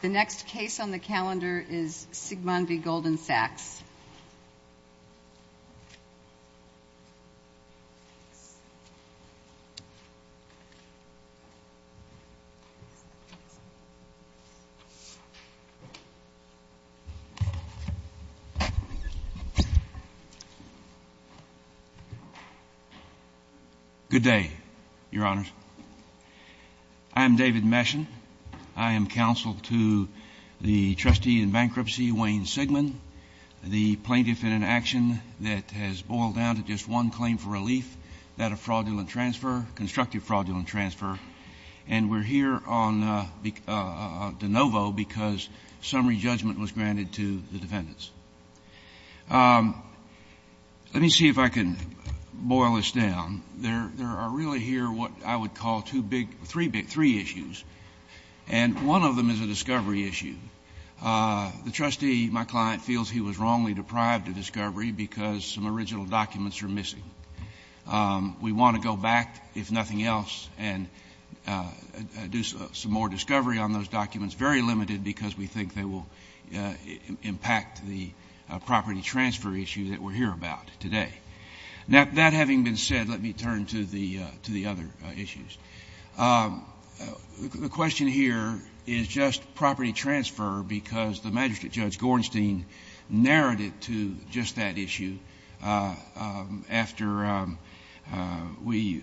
The next case on the calendar is Sigmond v. Goldman Sachs. Good day, Your Honors. I am David Meshon. I am counsel to the trustee in bankruptcy, Wayne Sigmond, the plaintiff in an action that has boiled down to just one claim for relief, that of fraudulent transfer, constructive fraudulent transfer. And we're here on de novo because summary judgment was granted to the defendants. Let me see if I can boil this down. There are really here what I would call three issues, and one of them is a discovery issue. The trustee, my client, feels he was wrongly deprived of discovery because some original documents are missing. We want to go back, if nothing else, and do some more discovery on those documents. Very limited because we think they will impact the property transfer issue that we're here about today. Now, that having been said, let me turn to the other issues. The question here is just property transfer because the magistrate, Judge Gorenstein, narrated to just that issue after we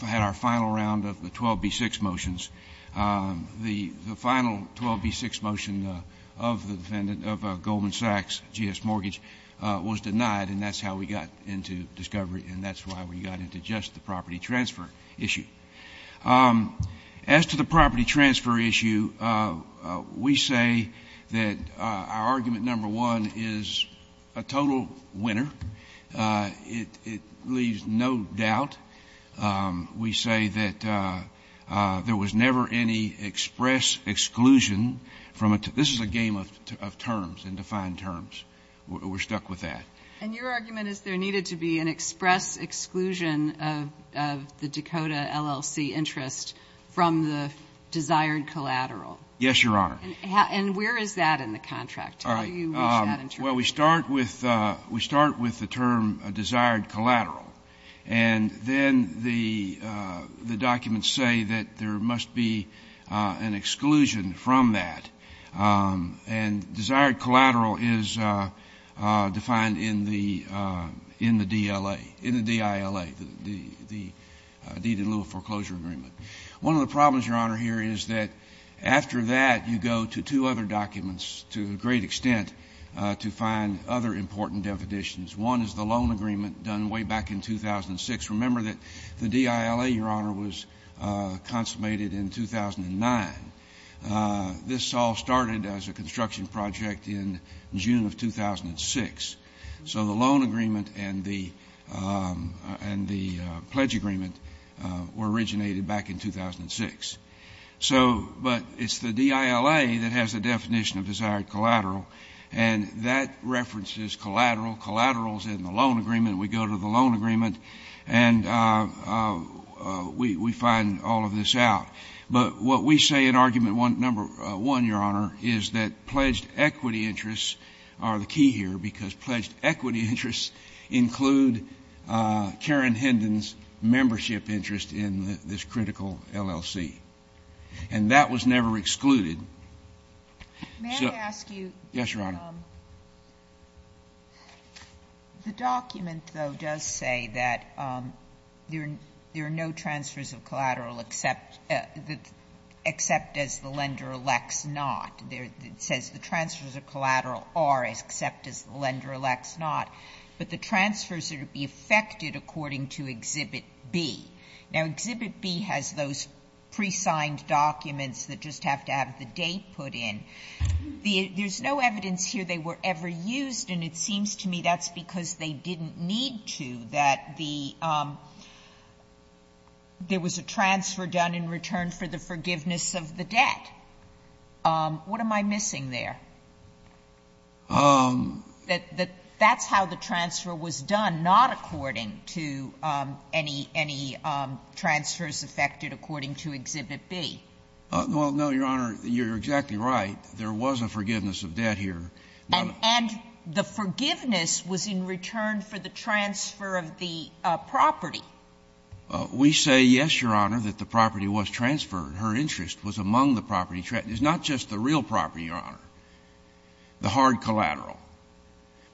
had our final round of the 12b-6 motions. The final 12b-6 motion of the defendant of a Goldman Sachs G.S. mortgage was denied, and that's how we got into discovery, and that's why we got into just the property transfer issue. As to the property transfer issue, we say that our argument number one is a total winner. It leaves no doubt. We say that there was never any express exclusion from a tool. This is a game of terms and defined terms. We're stuck with that. And your argument is there needed to be an express exclusion of the Dakota LLC interest from the desired collateral. Yes, Your Honor. And where is that in the contract? How do you reach that interpretation? Well, we start with the term desired collateral, and then the documents say that there must be an exclusion from that. And desired collateral is defined in the DLA, in the DILA, the Deed in Lua Foreclosure Agreement. One of the problems, Your Honor, here is that after that you go to two other documents to a great extent to find other important definitions. One is the loan agreement done way back in 2006. Remember that the DILA, Your Honor, was consummated in 2009. This all started as a construction project in June of 2006. So the loan agreement and the pledge agreement were originated back in 2006. But it's the DILA that has the definition of desired collateral, and that references collateral. Collateral is in the loan agreement. We go to the loan agreement, and we find all of this out. But what we say in argument number one, Your Honor, is that pledged equity interests are the key here because pledged equity interests include Karen Hendon's membership interest in this critical LLC. And that was never excluded. Yes, Your Honor. Sotomayor? The document, though, does say that there are no transfers of collateral except as the lender elects not. It says the transfers of collateral are except as the lender elects not. But the transfers are to be effected according to Exhibit B. Now, Exhibit B has those presigned documents that just have to have the date put in. There's no evidence here they were ever used, and it seems to me that's because they didn't need to, that there was a transfer done in return for the forgiveness of the debt. What am I missing there? That's how the transfer was done, not according to any transfers effected according to Exhibit B. Well, no, Your Honor, you're exactly right. There was a forgiveness of debt here. And the forgiveness was in return for the transfer of the property. We say, yes, Your Honor, that the property was transferred. Her interest was among the property. It's not just the real property, Your Honor, the hard collateral.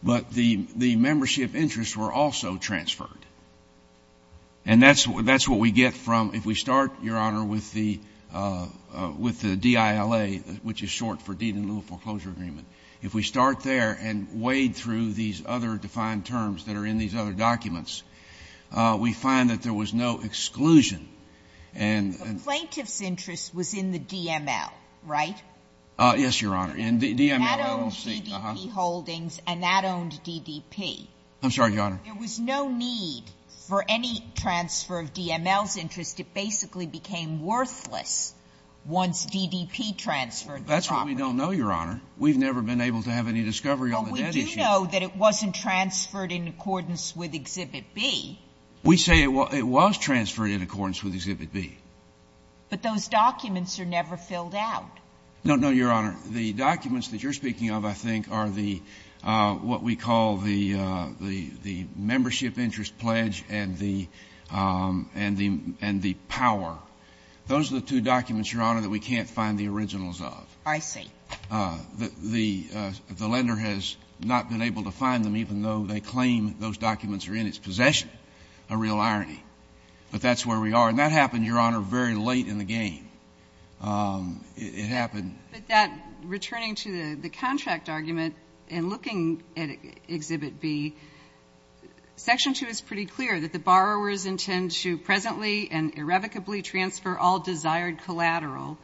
But the membership interests were also transferred. And that's what we get from, if we start, Your Honor, with the DILA, which is short for deed in lieu of foreclosure agreement. If we start there and wade through these other defined terms that are in these other documents, we find that there was no exclusion. And the plaintiff's interest was in the DML, right? Yes, Your Honor. In the DML. That owned GDP Holdings and that owned DDP. I'm sorry, Your Honor. There was no need for any transfer of DML's interest. It basically became worthless once DDP transferred the property. That's what we don't know, Your Honor. We've never been able to have any discovery on the debt issue. Well, we do know that it wasn't transferred in accordance with Exhibit B. We say it was transferred in accordance with Exhibit B. But those documents are never filled out. No, no, Your Honor. The documents that you're speaking of, I think, are the what we call the membership interest pledge and the power. Those are the two documents, Your Honor, that we can't find the originals of. I see. The lender has not been able to find them, even though they claim those documents are in its possession, a real irony. But that's where we are. And that happened, Your Honor, very late in the game. It happened. But that returning to the contract argument and looking at Exhibit B, Section 2 is pretty clear that the borrowers intend to presently and irrevocably transfer all desired collateral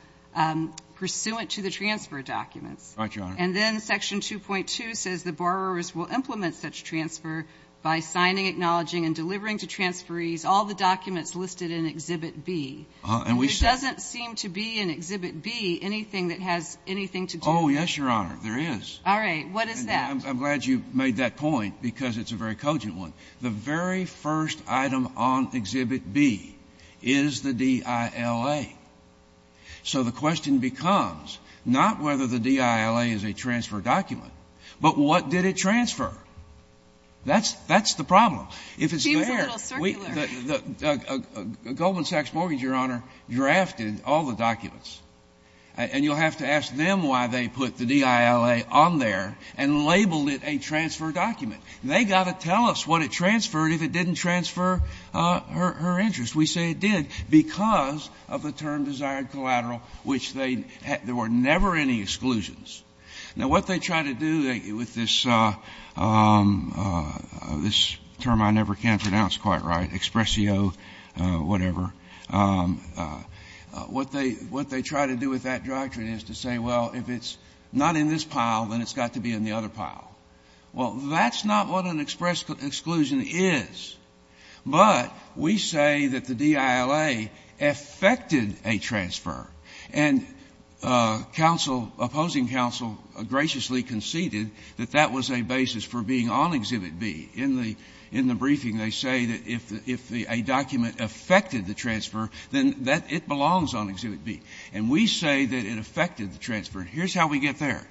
pursuant to the transfer documents. Right, Your Honor. And then Section 2.2 says the borrowers will implement such transfer by signing, acknowledging, and delivering to transferees all the documents listed in Exhibit B. And we said that. There doesn't seem to be in Exhibit B anything that has anything to do with it. Oh, yes, Your Honor, there is. All right. What is that? I'm glad you made that point because it's a very cogent one. The very first item on Exhibit B is the DILA. So the question becomes not whether the DILA is a transfer document, but what did it transfer? That's the problem. If it's there. Seems a little circular. Goldman Sachs Mortgage, Your Honor, drafted all the documents. And you'll have to ask them why they put the DILA on there and labeled it a transfer document. They've got to tell us what it transferred if it didn't transfer her interest. We say it did because of the term desired collateral, which there were never any exclusions. Now, what they try to do with this term I never can pronounce quite right, expressio, whatever, what they try to do with that doctrine is to say, well, if it's not in this pile, then it's got to be in the other pile. Well, that's not what an express exclusion is. But we say that the DILA affected a transfer. And counsel, opposing counsel, graciously conceded that that was a basis for being on Exhibit B. In the briefing, they say that if a document affected the transfer, then it belongs on Exhibit B. And we say that it affected the transfer. Here's how we get there.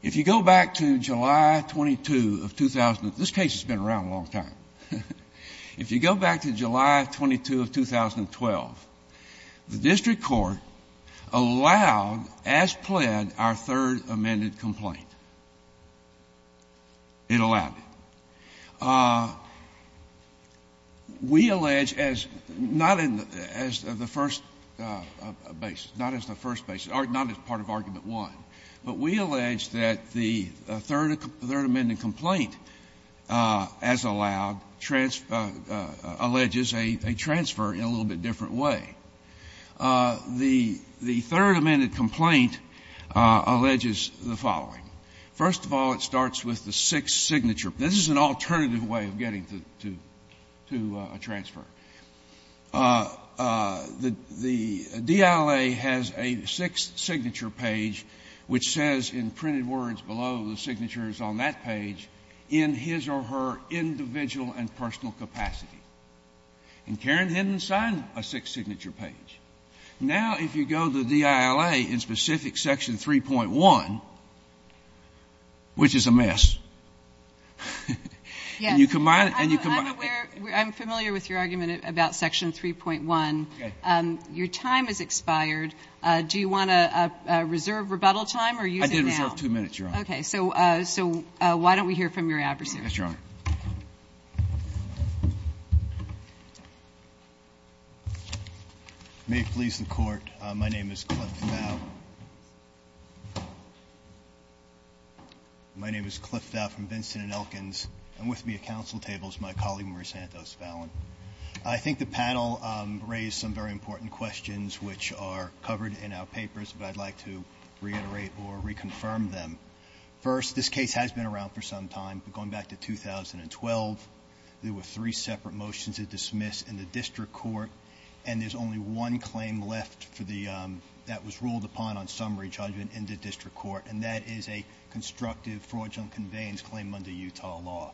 If you go back to July 22 of 2000, this case has been around a long time. If you go back to July 22 of 2012, the district court allowed, as pled, our third amended complaint. It allowed it. We allege, as not in the first basis, not as the first basis, or not as part of argument one, but we allege that the third amended complaint, as allowed, alleges a transfer in a little bit different way. The third amended complaint alleges the following. First of all, it starts with the sixth signature. This is an alternative way of getting to a transfer. The DILA has a sixth signature page which says in printed words below, the signature is on that page, in his or her individual and personal capacity. And Karen Hinton signed a sixth signature page. Now, if you go to DILA in specific section 3.1, which is a mess, and you combine it and you combine it. I'm sorry, I'm going to pause for a minute about section 3.1. Your time has expired. Do you want to reserve rebuttal time or use it now? I did reserve two minutes, Your Honor. Okay. So why don't we hear from your advocate? Yes, Your Honor. May it please the Court, my name is Cliff Dow. My name is Cliff Dow from Vincent & Elkins. And with me at council table is my colleague, Mary Santos Fallon. I think the panel raised some very important questions, which are covered in our papers, but I'd like to reiterate or reconfirm them. First, this case has been around for some time, going back to 2012. There were three separate motions that were dismissed in the district court, and there's only one claim left that was ruled upon on summary judgment in the district court, and that is a constructive fraudulent conveyance claim under Utah law.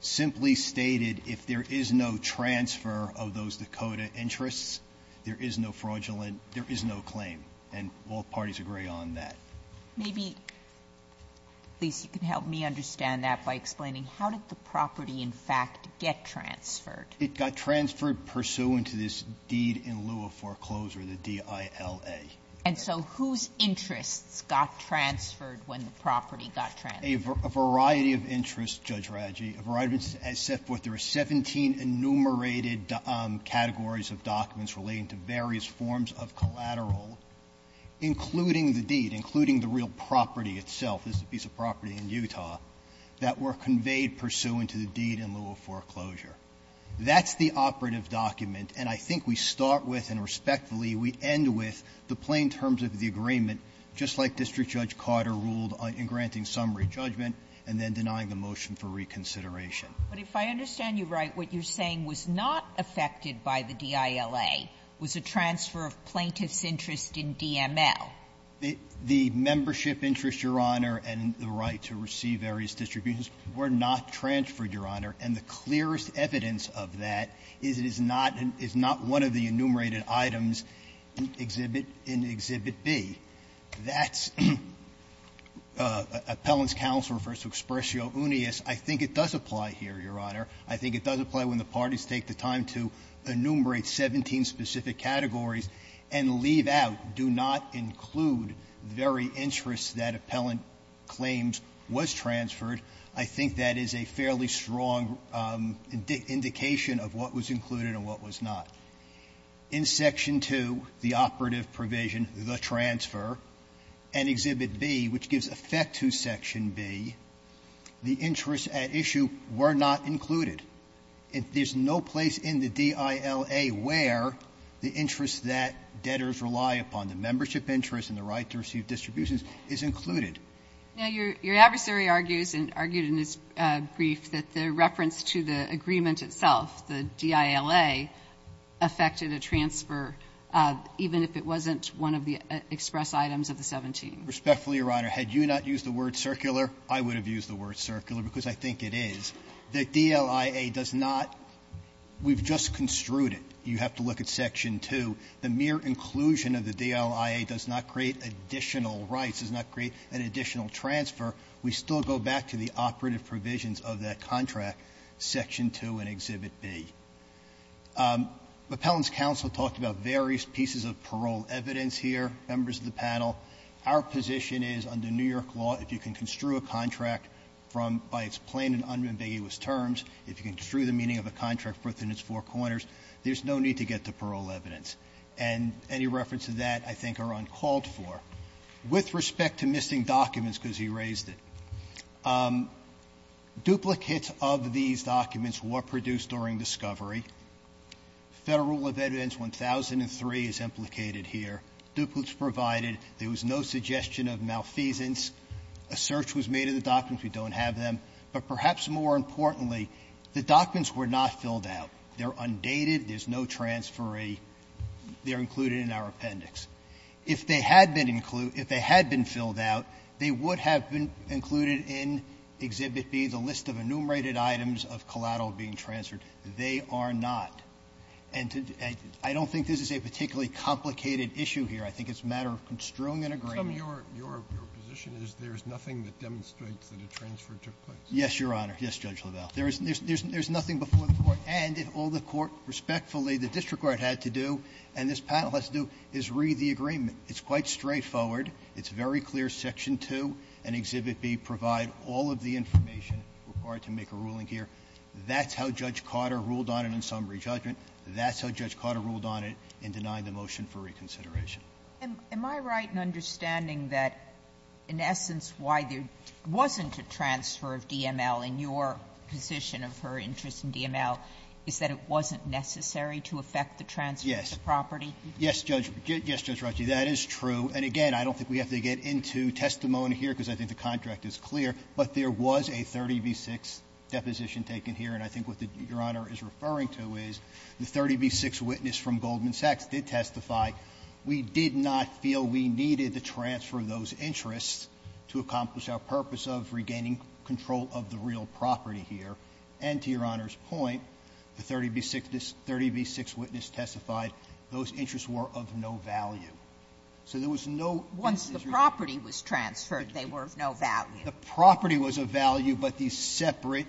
Simply stated, if there is no transfer of those Dakota interests, there is no fraudulent or there is no claim, and both parties agree on that. Maybe, please, you can help me understand that by explaining how did the property in fact get transferred? It got transferred pursuant to this deed in lieu of foreclosure, the DILA. And so whose interests got transferred when the property got transferred? A variety of interests, Judge Raggi, a variety of interests. As set forth, there are 17 enumerated categories of documents relating to various forms of collateral, including the deed, including the real property itself. This is a piece of property in Utah that were conveyed pursuant to the deed in lieu of foreclosure. That's the operative document, and I think we start with, and respectfully, we end with the plain terms of the agreement, just like District Judge Carter ruled in granting summary judgment and then denying the motion for reconsideration. But if I understand you right, what you're saying was not affected by the DILA, was a transfer of plaintiff's interest in DML. The membership interest, Your Honor, and the right to receive various distributions were not transferred, Your Honor, and the clearest evidence of that is it is not one of the enumerated items in Exhibit B. That's appellant's counsel refers to expressio unius. I think it does apply here, Your Honor. I think it does apply when the parties take the time to enumerate 17 specific categories and leave out, do not include the very interests that appellant claims was transferred. I think that is a fairly strong indication of what was included and what was not. In Section 2, the operative provision, the transfer, and Exhibit B, which gives effect to Section B, the interests at issue were not included. There's no place in the DILA where the interests that debtors rely upon, the membership interest and the right to receive distributions, is included. Now, your adversary argues, and argued in his brief, that the reference to the agreement itself, the DILA, affected a transfer even if it wasn't one of the express items of the 17. Respectfully, Your Honor, had you not used the word circular, I would have used the word circular, because I think it is. The DLIA does not. We've just construed it. You have to look at Section 2. The mere inclusion of the DLIA does not create additional rights, does not create an additional transfer. We still go back to the Exhibit B. The Appellant's counsel talked about various pieces of parole evidence here. Members of the panel, our position is, under New York law, if you can construe a contract from by its plain and unambiguous terms, if you can construe the meaning of a contract within its four corners, there's no need to get to parole evidence. And any reference to that, I think, are uncalled for. With respect to missing documents, because he raised it, duplicates of these documents were produced during discovery. Federal Rule of Evidence 1003 is implicated here. Duplicates provided. There was no suggestion of malfeasance. A search was made of the documents. We don't have them. But perhaps more importantly, the documents were not filled out. They're undated. There's no transferee. They're included in our appendix. If they had been included — if they had been filled out, they would have been included in Exhibit B, the list of enumerated items of collateral being transferred. They are not. And I don't think this is a particularly complicated issue here. I think it's a matter of construing an agreement. Your position is there's nothing that demonstrates that a transfer took place? Yes, Your Honor. Yes, Judge LaValle. There's nothing before the Court. And if all the Court respectfully, the district court had to do, and this panel has to do, is read the agreement. It's quite straightforward. It's very clear Section 2 and Exhibit B provide all of the information required to make a ruling here. That's how Judge Cotter ruled on it in summary judgment. That's how Judge Cotter ruled on it in denying the motion for reconsideration. Am I right in understanding that, in essence, why there wasn't a transfer of DML in your position of her interest in DML is that it wasn't necessary to affect the transfer of the property? Yes. Yes, Judge. Yes, Judge Ruggie. That is true. And again, I don't think we have to get into testimony here because I think the contract is clear, but there was a 30b-6 deposition taken here. And I think what the Your Honor is referring to is the 30b-6 witness from Goldman Sachs did testify. We did not feel we needed the transfer of those interests to accomplish our purpose of regaining control of the real property here. And to Your Honor's point, the 30b-6 witness testified those interests were of no value. So there was no decision. Once the property was transferred, they were of no value. The property was of value, but the separate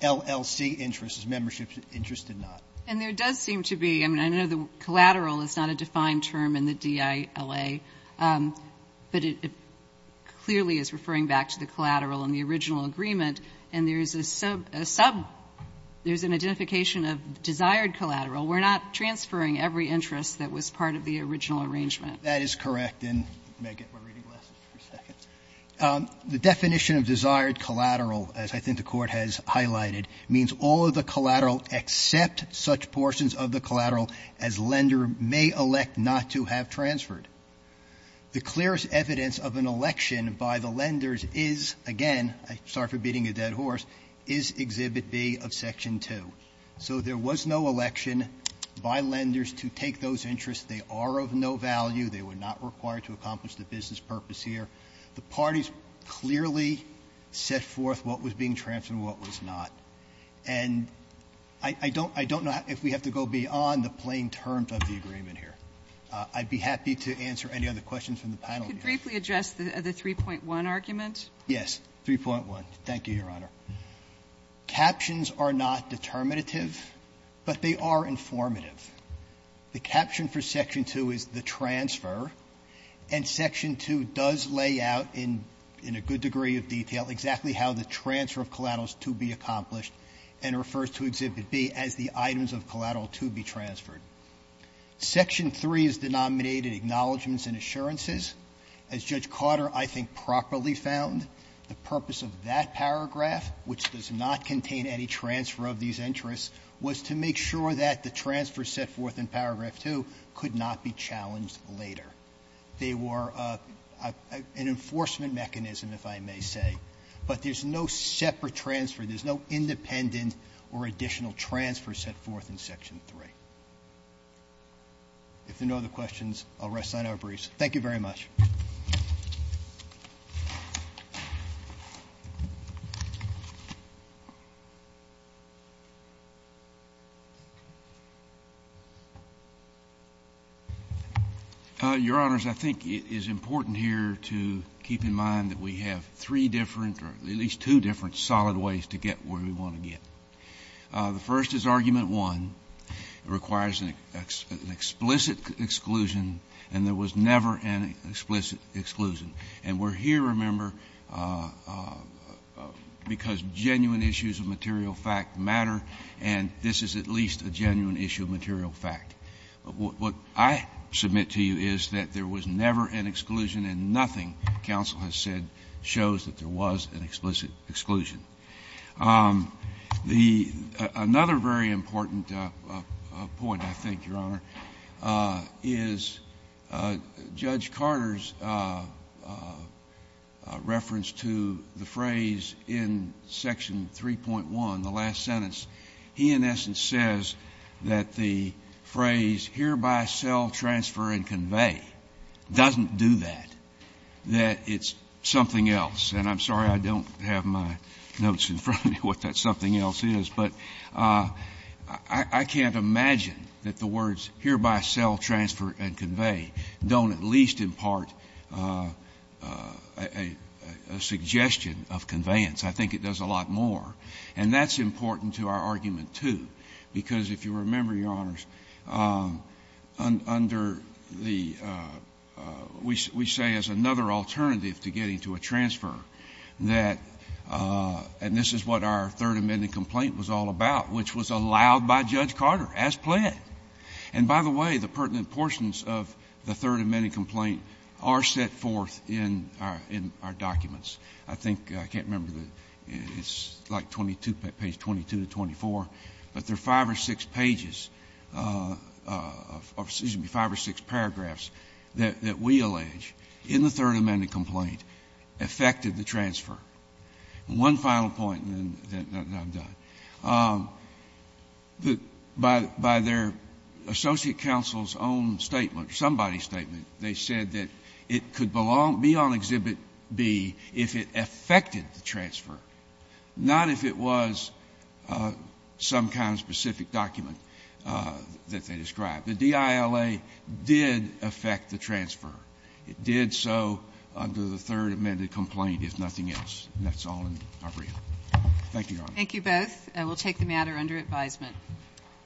LLC interests, memberships, interests did not. And there does seem to be the collateral is not a defined term in the DILA, but it clearly is referring back to the collateral in the original agreement. And there is a sub – a sub – there is an identification of desired collateral. We're not transferring every interest that was part of the original arrangement. That is correct. And may I get my reading glasses for a second? The definition of desired collateral, as I think the Court has highlighted, means all of the collateral except such portions of the collateral as lender may elect not to have transferred. The clearest evidence of an election by the lenders is, again, I'm sorry for beating a dead horse, is Exhibit B of Section 2. So there was no election by lenders to take those interests. They are of no value. They were not required to accomplish the business purpose here. The parties clearly set forth what was being transferred and what was not. And I don't – I don't know if we have to go beyond the plain terms of the agreement here. I'd be happy to answer any other questions from the panel here. Could you briefly address the 3.1 argument? Yes. 3.1. Thank you, Your Honor. Captions are not determinative, but they are informative. The caption for Section 2 is the transfer, and Section 2 does lay out in a good degree of detail exactly how the transfer of collaterals to be accomplished and refers to Exhibit B as the items of collateral to be transferred. Section 3 is denominated acknowledgments and assurances. As Judge Carter, I think, properly found, the purpose of that paragraph, which does not contain any transfer of these interests, was to make sure that the transfer set forth in Paragraph 2 could not be challenged later. They were an enforcement mechanism, if I may say. But there's no separate transfer. There's no independent or additional transfer set forth in Section 3. If there are no other questions, I'll rest on our briefs. Thank you very much. Your Honors, I think it is important here to keep in mind that we have three different or at least two different solid ways to get where we want to get. The first is Argument 1. It requires an explicit exclusion, and there was never an explicit exclusion. And we're here, remember, because genuine issues of material fact matter, and this is at least a genuine issue of material fact. What I submit to you is that there was never an exclusion, and nothing counsel has said shows that there was an explicit exclusion. The — another very important point, I think, Your Honor, is Judge Carter's reference to the phrase in Section 3.1, the last sentence, he, in essence, says that the phrase, hereby, sell, transfer, and convey, doesn't do that, that it's something else. And I'm sorry I don't have my notes in front of me what that something else is. But I can't imagine that the words, hereby, sell, transfer, and convey, don't at least impart a suggestion of conveyance. I think it does a lot more. And that's important to our argument, too, because if you remember, Your Honors, under the — we say as another alternative to getting to a transfer that — and this is what our Third Amendment complaint was all about, which was allowed by Judge Carter as pled. And by the way, the pertinent portions of the Third Amendment complaint are set forth in our documents. I think — I can't remember the — it's like 22, page 22 to 24, but there are five or six pages — excuse me, five or six paragraphs that we allege in the Third Amendment complaint affected the transfer. And one final point, and then I'm done. By their associate counsel's own statement, somebody's statement, they said that it could be on Exhibit B if it affected the transfer, not if it was some kind of specific document that they described. The DILA did affect the transfer. It did so under the Third Amendment complaint, if nothing else. And that's all in our brief. Thank you, Your Honors. Kagan. Thank you both. We'll take the matter under advisement.